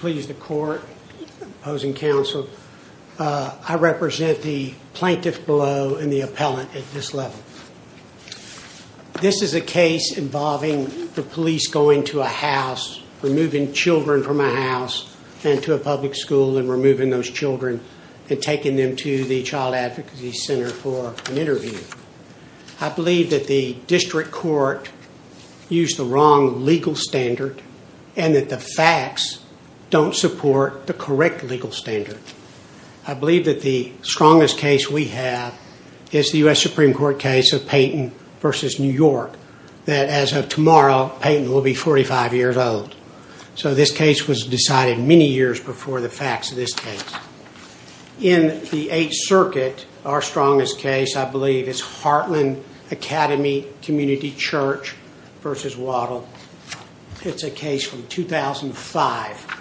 Please the court opposing counsel. I represent the plaintiff below and the appellant at this level. This is a case involving the police going to a house, removing children from a house and to a public school and removing those children and taking them to the child advocacy center for an interview. I believe that the district court used the wrong legal standard and that the facts don't support the correct legal standard. I believe that the strongest case we have is the U.S. Supreme Court case of Payton v. New York that as of tomorrow Payton will be 45 years old. So this case was decided many years before the facts of this case. In the Eighth Circuit our strongest case I believe is Heartland Academy Community Church v. Waddell. It's a case from 2005.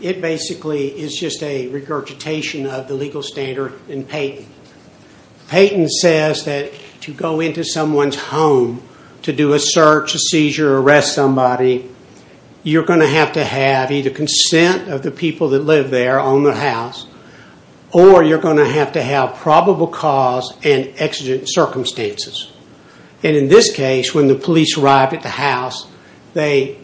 It basically is just a regurgitation of the legal standard in Payton. Payton says that to go into someone's home to do a search, a seizure, arrest somebody, you're going to have to have either the consent of the people that live there on the house or you're going to have to have probable cause and exigent circumstances. And in this case when the police arrived at the house they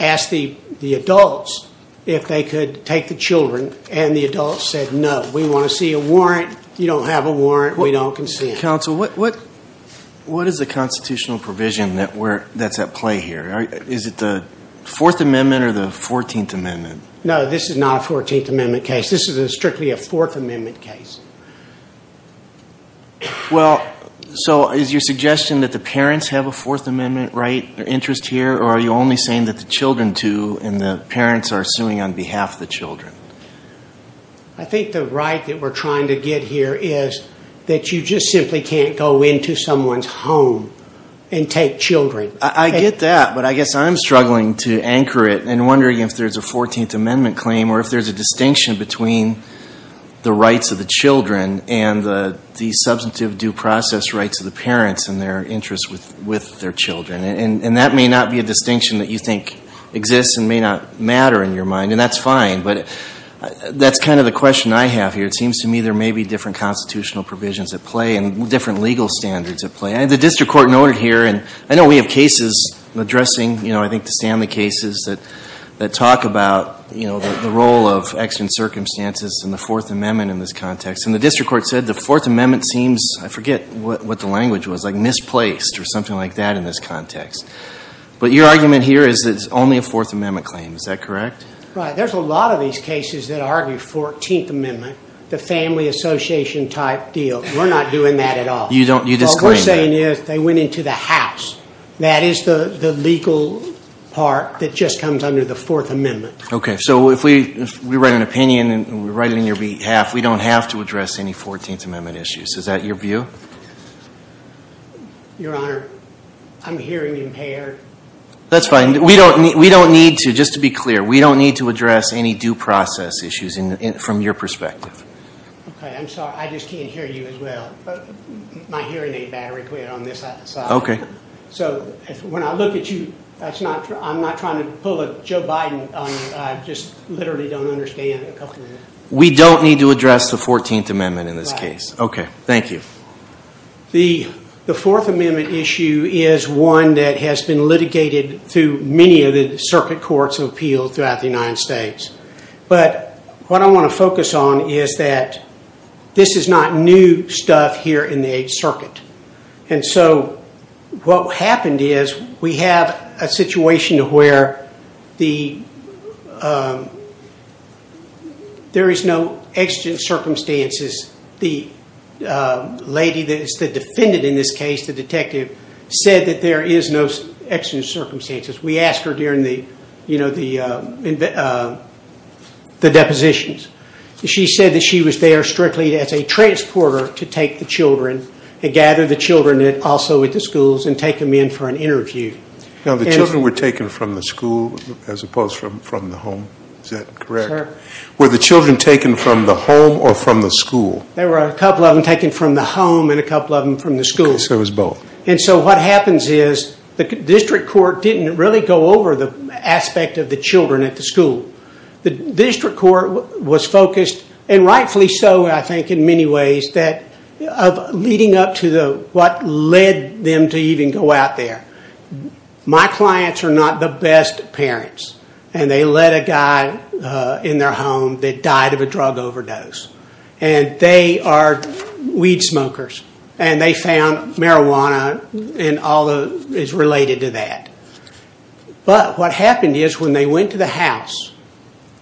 asked the adults if they could take the children and the adults said no. We want to see a warrant. You don't have a warrant. We don't consent. Counsel, what is the constitutional provision that's at play here? Is it the Fourth Amendment or the Fourteenth Amendment? No, this is not a Fourteenth Amendment case. This is strictly a Fourth Amendment case. Well, so is your suggestion that the parents have a Fourth Amendment right or interest here or are you only saying that the children do and the parents are suing on behalf of the children? I think the right that we're trying to get here is that you just simply can't go into someone's home and take children. I get that but I guess I'm struggling to anchor it and wondering if there's a Fourteenth Amendment claim or if there's a distinction between the rights of the children and the substantive due process rights of the parents and their interests with their children. And that may not be a distinction that you think exists and may not matter in your mind and that's fine but that's kind of the question I have here. It seems to me there may be different constitutional provisions at play and different legal standards at play. The district court noted here and I know we have cases addressing, you know, I think the Stanley cases that talk about, you know, the role of extant circumstances and the Fourth Amendment in this context. And the district court said the Fourth Amendment seems, I forget what the language was, like misplaced or something like that in this context. But your argument here is it's only a Fourth Amendment claim. Is that correct? Right. There's a lot of these cases that argue Fourteenth Amendment, the family association type deal. We're not doing that at all. You don't, you disclaim that. They went into the house. That is the legal part that just comes under the Fourth Amendment. Okay. So if we write an opinion and we write it in your behalf, we don't have to address any Fourteenth Amendment issues. Is that your view? Your Honor, I'm hearing impaired. That's fine. We don't need to, just to be clear, we don't need to address any due process issues from your perspective. Okay. I'm sorry. I just can't hear you as well. My hearing aid battery quit on this side. So when I look at you, that's not true. I'm not trying to pull a Joe Biden. I just literally don't understand. We don't need to address the Fourteenth Amendment in this case. Okay. Thank you. The Fourth Amendment issue is one that has been litigated through many of the circuit courts of appeal throughout the United States. But what I want to focus on is that this is not new stuff here in the Eighth Circuit. And so what happened is we have a situation where there is no exigent circumstances. The lady that is the defendant in this case, the detective said that there is no exigent circumstances. We asked her during the in the depositions. She said that she was there strictly as a transporter to take the children and gather the children also at the schools and take them in for an interview. Now the children were taken from the school as opposed from the home. Is that correct? Sir. Were the children taken from the home or from the school? There were a couple of them taken from the home and a couple of them from the school. I guess there was both. And so what happens is the district court didn't really go over the aspect of the children at the school. The district court was focused, and rightfully so I think in many ways, of leading up to what led them to even go out there. My clients are not the best parents and they let a guy in their home that died of a drug overdose. And they are weed smokers and they found marijuana and all that is related to that. But what happened is when they went to the house,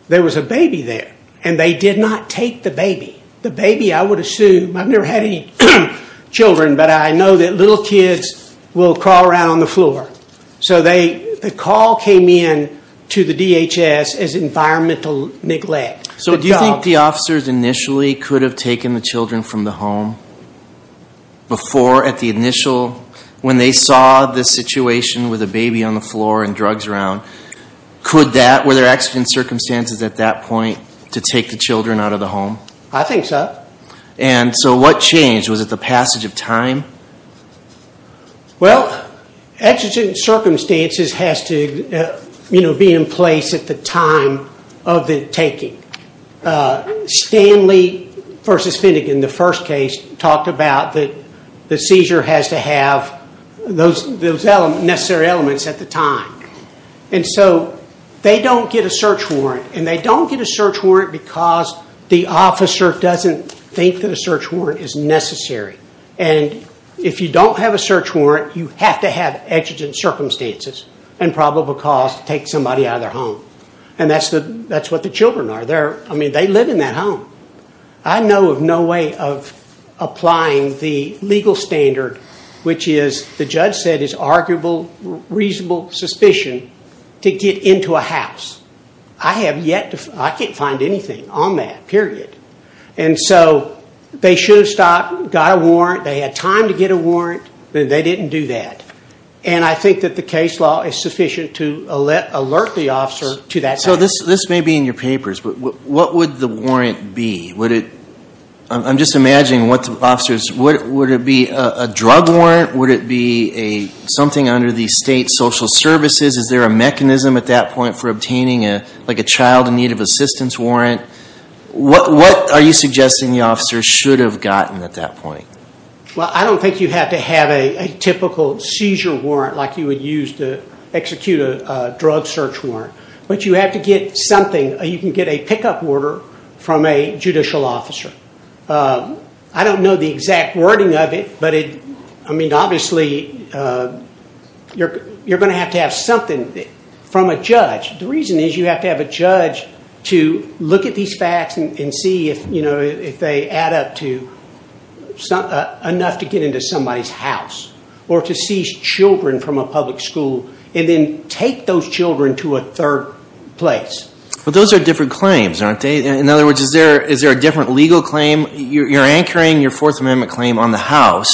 there was a baby there and they did not take the baby. The baby I would assume, I've never had any children, but I know that little kids will crawl around on the floor. So the call came in to the DHS as environmental neglect. So do you think the officers initially could have taken the children from the home? Before, at the initial, when they saw the situation with the baby on the floor and drugs around, could that, were there accident circumstances at that point to take the children out of the home? I think so. And so what changed? Was it the passage of time? Well, accident circumstances has to be in place at the time of the taking. Stanley versus Finnegan, the first case, talked about that the seizure has to have those necessary elements at the time. And so they don't get a search warrant. And they don't get a search warrant because the officer doesn't think that a search warrant is necessary. And if you don't have a search warrant, you have to have accident circumstances and probable cause to take somebody out of their home. I know of no way of applying the legal standard, which is, the judge said, is arguable, reasonable suspicion to get into a house. I have yet to, I can't find anything on that, period. And so they should have stopped, got a warrant, they had time to get a warrant, but they didn't do that. And I think that the case law is sufficient to alert the officer to that. So this may be in your papers, but what would the warrant be? I'm just imagining what the officers, would it be a drug warrant? Would it be something under the state social services? Is there a mechanism at that point for obtaining a child in need of assistance warrant? What are you suggesting the officer should have gotten at that point? Well, I don't think you have to have a typical seizure warrant like you would use to execute a drug search warrant, but you have to get something, you can get a pickup order from a judicial officer. I don't know the exact wording of it, but obviously you're going to have to have something from a judge. The reason is you have to have a judge to look at these facts and see if they add up to enough to get into somebody's house, or to seize children from a public school, and then take those children to a third place. But those are different claims, aren't they? In other words, is there a different legal claim? You're anchoring your Fourth Amendment claim on the house,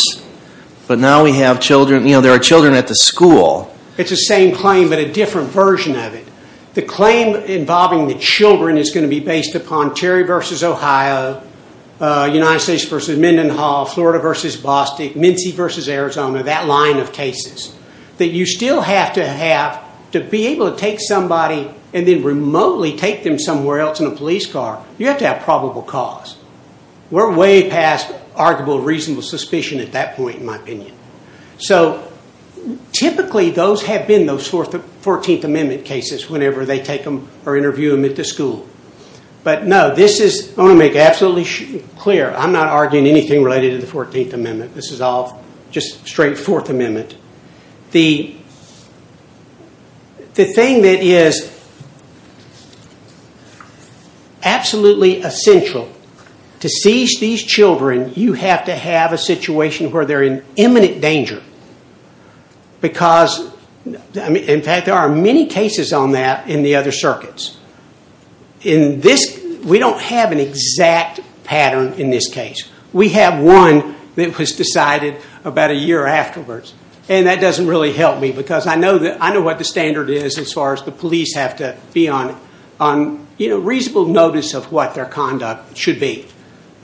but now we have children, there are children at the school. It's the same claim, but a different version of it. The claim involving the children is going to be based upon Terry v. Ohio, United States v. Mendenhall, Florida v. Bostick, Mincy v. Arizona, that line of cases. You still have to have, to be able to take somebody and then remotely take them somewhere else in a police car, you have to have probable cause. We're way past arguable reasonable suspicion at that point, in my opinion. Typically, those have been those Fourteenth Amendment cases whenever they take them or interview them at the school. But no, I want to make absolutely clear, I'm not arguing anything related to the Fourteenth Amendment, this is all just straight Fourth Amendment. The thing that is absolutely essential to seize these children, you have to have a situation where they're in imminent danger. In fact, there are many cases on that in the other circuits. In this, we don't have an exact pattern in this case. We have one that was decided about a year afterwards. That doesn't really help me because I know what the standard is as far as the police have to be on reasonable notice of what their conduct should be.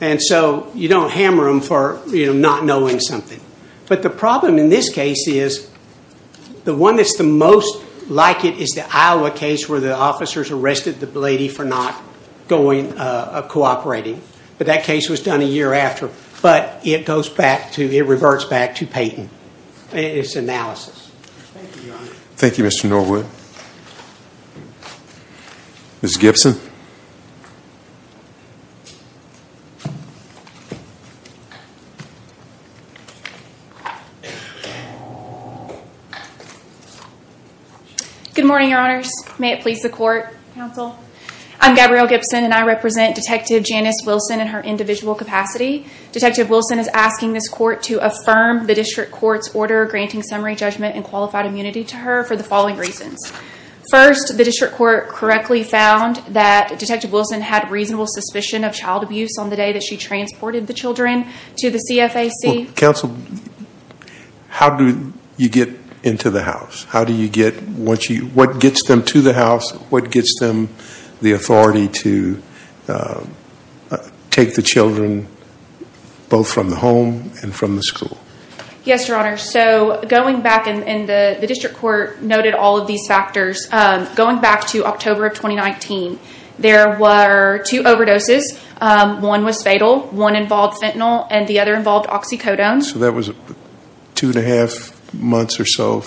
You don't hammer them for not knowing something. But the problem in this case is, the one that's the most like it is the Iowa case where the arrested the lady for not cooperating. But that case was done a year after. But it goes back to, it reverts back to Peyton. It's analysis. Thank you, Mr. Norwood. Ms. Gibson. Good morning, your honors. May it please the court, counsel. I'm Gabrielle Gibson and I represent Detective Janice Wilson in her individual capacity. Detective Wilson is asking this court to affirm the district court's order granting summary judgment and qualified immunity to her for the following reasons. First, the district court correctly found that Detective Wilson had reasonable suspicion of child abuse on the day that she transported the children to the CFAC. Counsel, how do you get into the house? What gets them to the house? What gets them the authority to take the children both from the home and from the school? Yes, your honor. So going back and the district court noted all of these factors. Going back to October of 2019, there were two overdoses. One was fatal. One involved fentanyl and the other involved oxycodone. So that was two and a half months or so.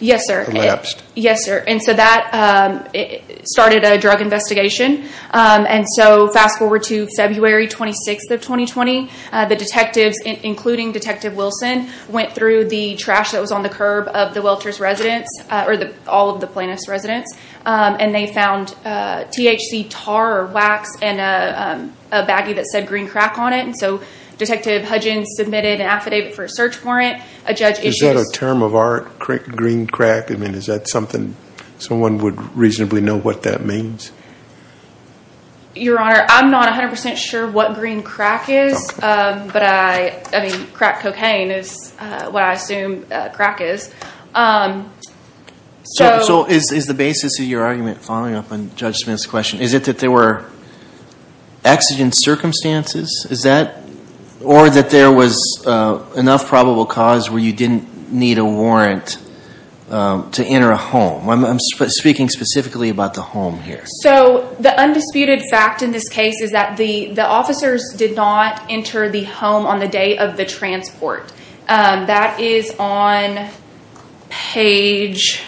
Yes, sir. Collapsed. Yes, sir. And so that started a drug investigation. And so fast forward to February 26th of 2020, the detectives, including Detective Wilson, went through the trash that was on the curb of the Welter's residence or all of the plaintiff's residence. And they found THC tar or wax and a baggie that said green crack on it. And so Detective Hudgins submitted an affidavit for a search warrant. A judge issued- Is that a term of art, green crack? I mean, is that something someone would reasonably know what that means? Your honor, I'm not 100% sure what green crack is. But I mean, crack cocaine is what I assume crack is. So is the basis of your argument following up on Judge Smith's question, is it that there were exigent circumstances? Is that? Or that there was enough probable cause where you didn't need a warrant to enter a home? I'm speaking specifically about the home here. So the undisputed fact in this case is that the officers did not enter the home on the day of the transport. That is on page-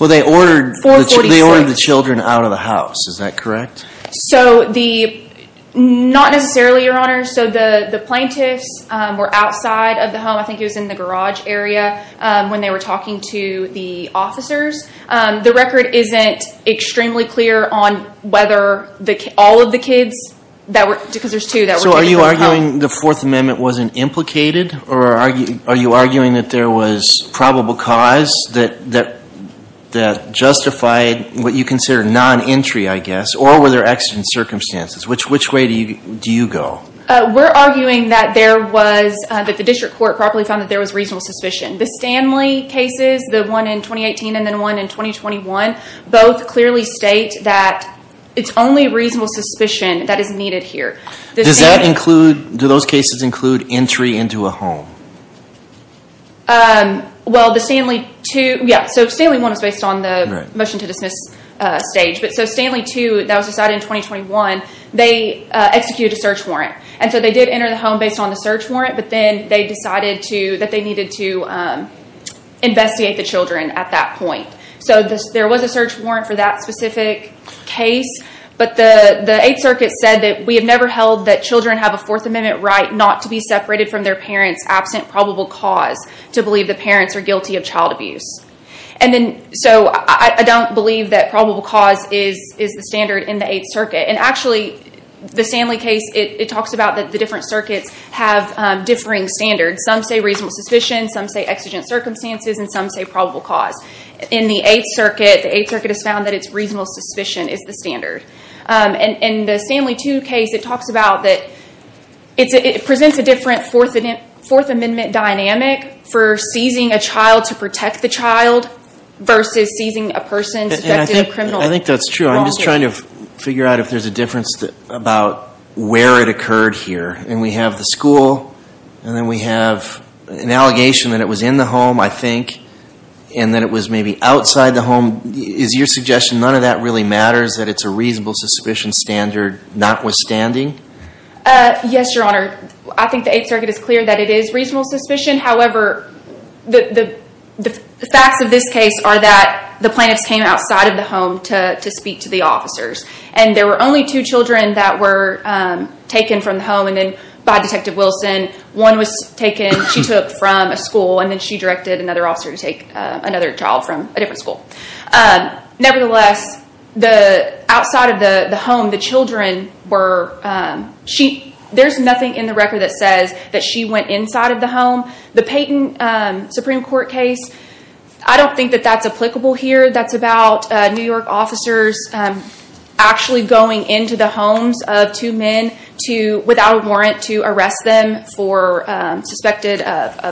Well, they ordered the children out of the house. Is that correct? Not necessarily, your honor. So the plaintiffs were outside of the home. I think it was in the garage area when they were talking to the officers. The record isn't extremely clear on whether all of the kids, because there's two- So are you arguing the Fourth Amendment wasn't implicated? Or are you arguing that there was probable cause that justified what you consider non-entry, I guess? Or were there exigent circumstances? Which way do you go? We're arguing that there was, that the district court properly found that there was reasonable suspicion. The Stanley cases, the one in 2018 and then one in 2021, both clearly state that it's only reasonable suspicion that is needed here. Does that include, do those cases include entry into a home? Well, the Stanley two, yeah. So Stanley one was based on the motion to dismiss stage. But so Stanley two, that was decided in 2021, they executed a search warrant. And so they did enter the home based on the search warrant, but then they decided that they needed to investigate the children at that point. So there was a search warrant for that specific case, but the Eighth Circuit said that we have never held that children have a Fourth Amendment right not to be separated from their parents absent probable cause to believe the parents are guilty of child abuse. And then, so I don't believe that probable cause is the standard in the Eighth Circuit. And actually, the Stanley case, it talks about that the different circuits have differing standards. Some say reasonable suspicion, some say exigent circumstances, and some say probable cause. In the Eighth Circuit, the Eighth Circuit has found that it's reasonable suspicion is the standard. In the Stanley two case, it talks about that it presents a different Fourth Amendment dynamic for seizing a child to protect the child versus seizing a person suspected of criminal wrongdoing. I think that's true. I'm just trying to figure out if there's a difference about where it occurred here. And we have the school, and then we have an allegation that it was in the home, I think, and that it was maybe outside the home. Is your suggestion none of that really matters, that it's a reasonable suspicion standard notwithstanding? Uh, yes, your honor. I think the Eighth Circuit is clear that it is reasonable suspicion. However, the facts of this case are that the plaintiffs came outside of the home to speak to the officers. And there were only two children that were taken from the home by Detective Wilson. One was taken, she took from a school, and then she directed another officer to take another child from a school. Nevertheless, outside of the home, there's nothing in the record that says that she went inside of the home. The Payton Supreme Court case, I don't think that that's applicable here. That's about New York officers actually going into the homes of two men without a warrant to arrest them for suspected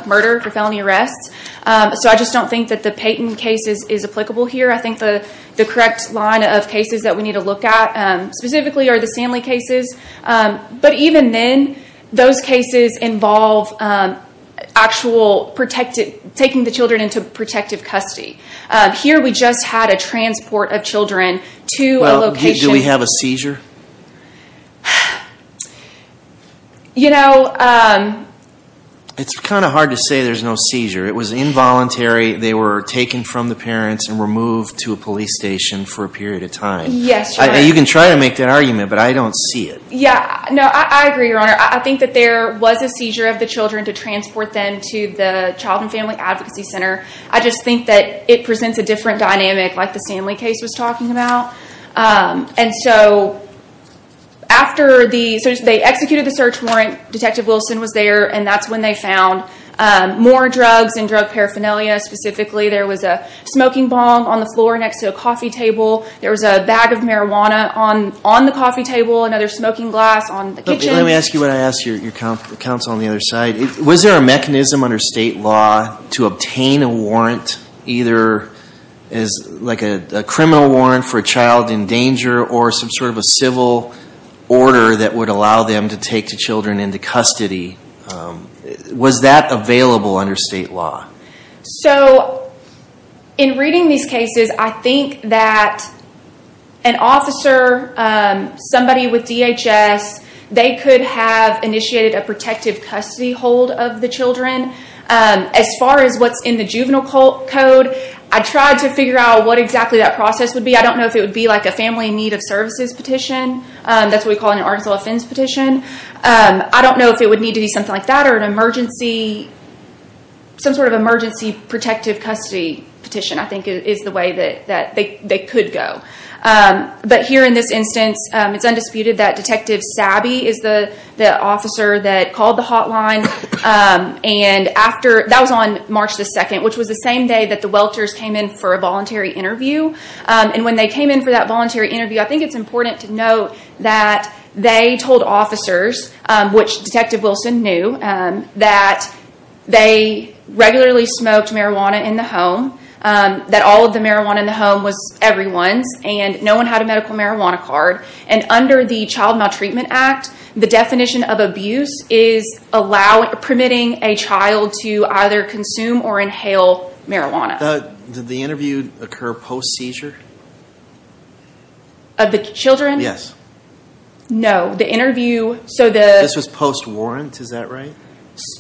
murder, for felony arrests. So I just don't think that the Payton case is applicable here. I think the correct line of cases that we need to look at specifically are the Stanley cases. But even then, those cases involve taking the children into protective custody. Here, we just had a transport of children to a location... Well, did we have a seizure? You know... It's kind of hard to say there's no seizure. It was involuntary. They were taken from the parents and removed to a police station for a period of time. Yes. You can try to make that argument, but I don't see it. Yeah, no, I agree, Your Honor. I think that there was a seizure of the children to transport them to the Child and Family Advocacy Center. I just think that it presents a different dynamic like the Stanley case was talking about. And so after they executed the search warrant, Detective Wilson was there, and that's when they found more drugs and drug paraphernalia. Specifically, there was a smoking bomb on the floor next to a coffee table. There was a bag of marijuana on the coffee table, another smoking glass on the kitchen. Let me ask you what I asked your counsel on the other side. Was there a mechanism under state law to obtain a warrant, either like a criminal warrant for a child in danger or some civil order that would allow them to take the children into custody? Was that available under state law? In reading these cases, I think that an officer, somebody with DHS, they could have initiated a protective custody hold of the children. As far as what's in the juvenile code, I tried to figure out what exactly that process would be. I don't know if it would be a family need of services petition. That's what we call an artificial offense petition. I don't know if it would need to be something like that or an emergency, some sort of emergency protective custody petition, I think is the way that they could go. But here in this instance, it's undisputed that Detective Sabby is the officer that called the hotline. That was on March 2nd, which was the same day that the Welters came in for a voluntary interview. And when they came in for that voluntary interview, I think it's important to note that they told officers, which Detective Wilson knew, that they regularly smoked marijuana in the home, that all of the marijuana in the home was everyone's, and no one had a medical marijuana card. And under the Child Maltreatment Act, the definition of abuse is permitting a child to either consume or inhale marijuana. Did the interview occur post-seizure? Of the children? Yes. No, the interview... This was post-warrant, is that right?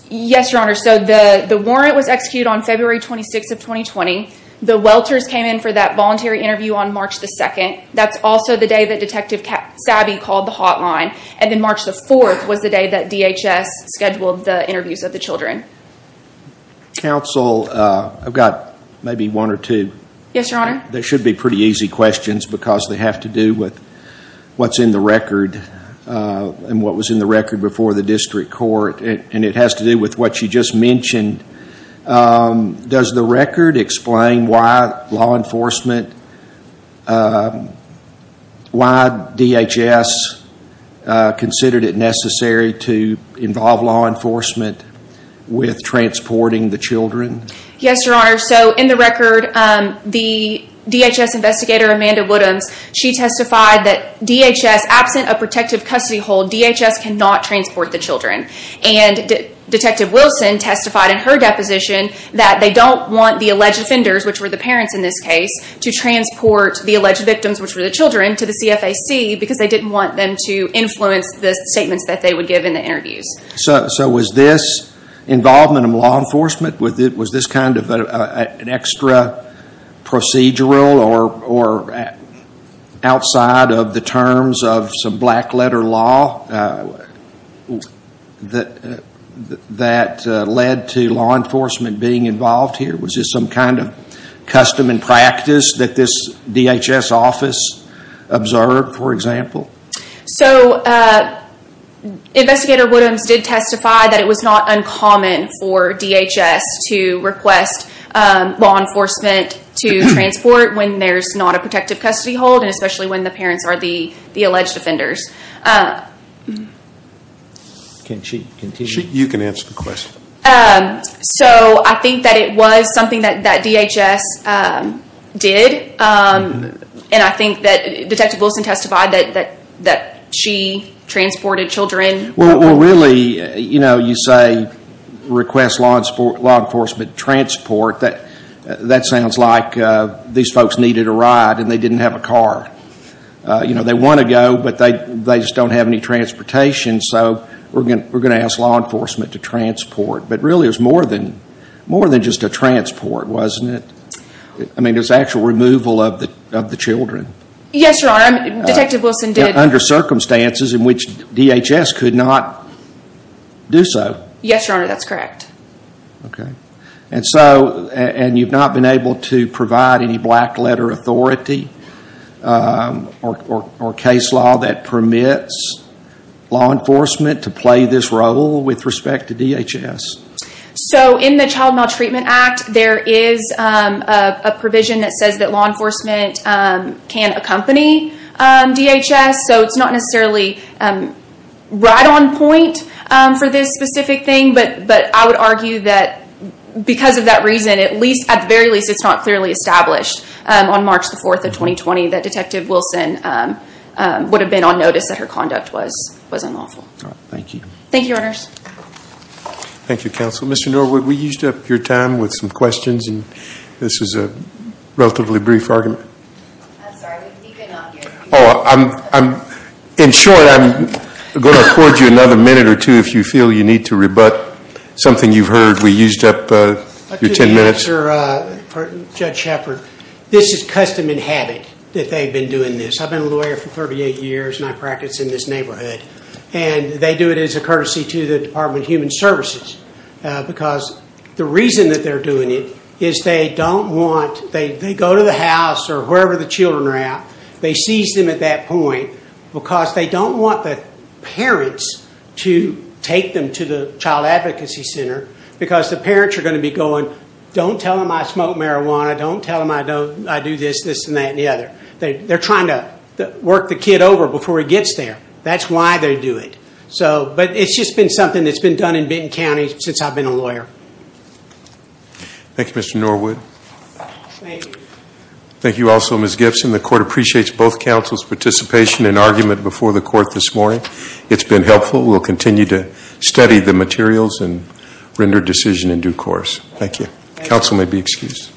Yes, Your Honor. So the warrant was executed on February 26th of 2020. The Welters came in for that voluntary interview on March 2nd. That's also the day that Detective Sabby called the hotline. And then March 4th was the day that DHS scheduled the interviews of the children. Counsel, I've got maybe one or two. Yes, Your Honor. They should be pretty easy questions because they have to do with what's in the record and what was in the record before the district court. And it has to do with what you just mentioned. Does the record explain why law enforcement was transporting the children? Yes, Your Honor. So in the record, the DHS investigator, Amanda Woodhams, she testified that DHS, absent a protective custody hold, DHS cannot transport the children. And Detective Wilson testified in her deposition that they don't want the alleged offenders, which were the parents in this case, to transport the alleged victims, which were the children, to the CFAC because they didn't want them to influence the statements that they would give in the interviews. So was this involvement of law enforcement, was this kind of an extra procedural or outside of the terms of some black letter law that led to law enforcement being involved here? Was this some kind of custom and practice that this DHS office observed, for example? So Investigator Woodhams did testify that it was not uncommon for DHS to request law enforcement to transport when there's not a protective custody hold and especially when the parents are the alleged offenders. Can she continue? You can answer the question. So I think that it was something that DHS did. And I think that Detective Wilson testified that she transported children. Well, really, you know, you say request law enforcement to transport. That sounds like these folks needed a ride and they didn't have a car. You know, they want to go, but they just don't have any transportation. So we're going to ask law enforcement to transport. But really, it was more than just a transport, wasn't it? I mean, there's actual removal of the children. Yes, Your Honor. Detective Wilson did. Under circumstances in which DHS could not do so. Yes, Your Honor, that's correct. Okay. And so, and you've not been able to provide any black letter authority or case law that permits law enforcement to play this role with respect to DHS? So in the Child Maltreatment Act, there is a provision that says that law enforcement can accompany DHS. So it's not necessarily right on point for this specific thing. But I would argue that because of that reason, at least, at the very least, it's not clearly established on March 4th of 2020 that Detective Wilson would have been on notice that her conduct was unlawful. All right. Thank you. Thank you, Your Honors. Thank you, Counsel. Mr. Norwood, we used up your time with some questions and this is a relatively brief argument. I'm sorry, we've evened out your time. Oh, in short, I'm going to afford you another minute or two if you feel you need to rebut something you've heard. We used up your 10 minutes. For Judge Shepard, this is custom and habit that they've been doing this. I've been a lawyer for 38 years and I practice in this neighborhood and they do it as a courtesy to the Department of Human Services because the reason that they're doing it is they don't want, they go to the house or wherever the children are at, they seize them at that point because they don't want the parents to take them to the Child Advocacy Center because the parents are going to be going, don't tell them I smoke marijuana, don't tell them I do this, this and that and the other. They're trying to work the kid over before he gets there. That's why they do it. So, but it's just been something that's been done in Benton County since I've been a lawyer. Thank you, Mr. Norwood. Thank you. Thank you also, Ms. Gibson. The Court appreciates both counsel's participation and argument before the Court this morning. It's been helpful. We'll continue to study the materials and render decision in due course. Thank you. Counsel may be excused.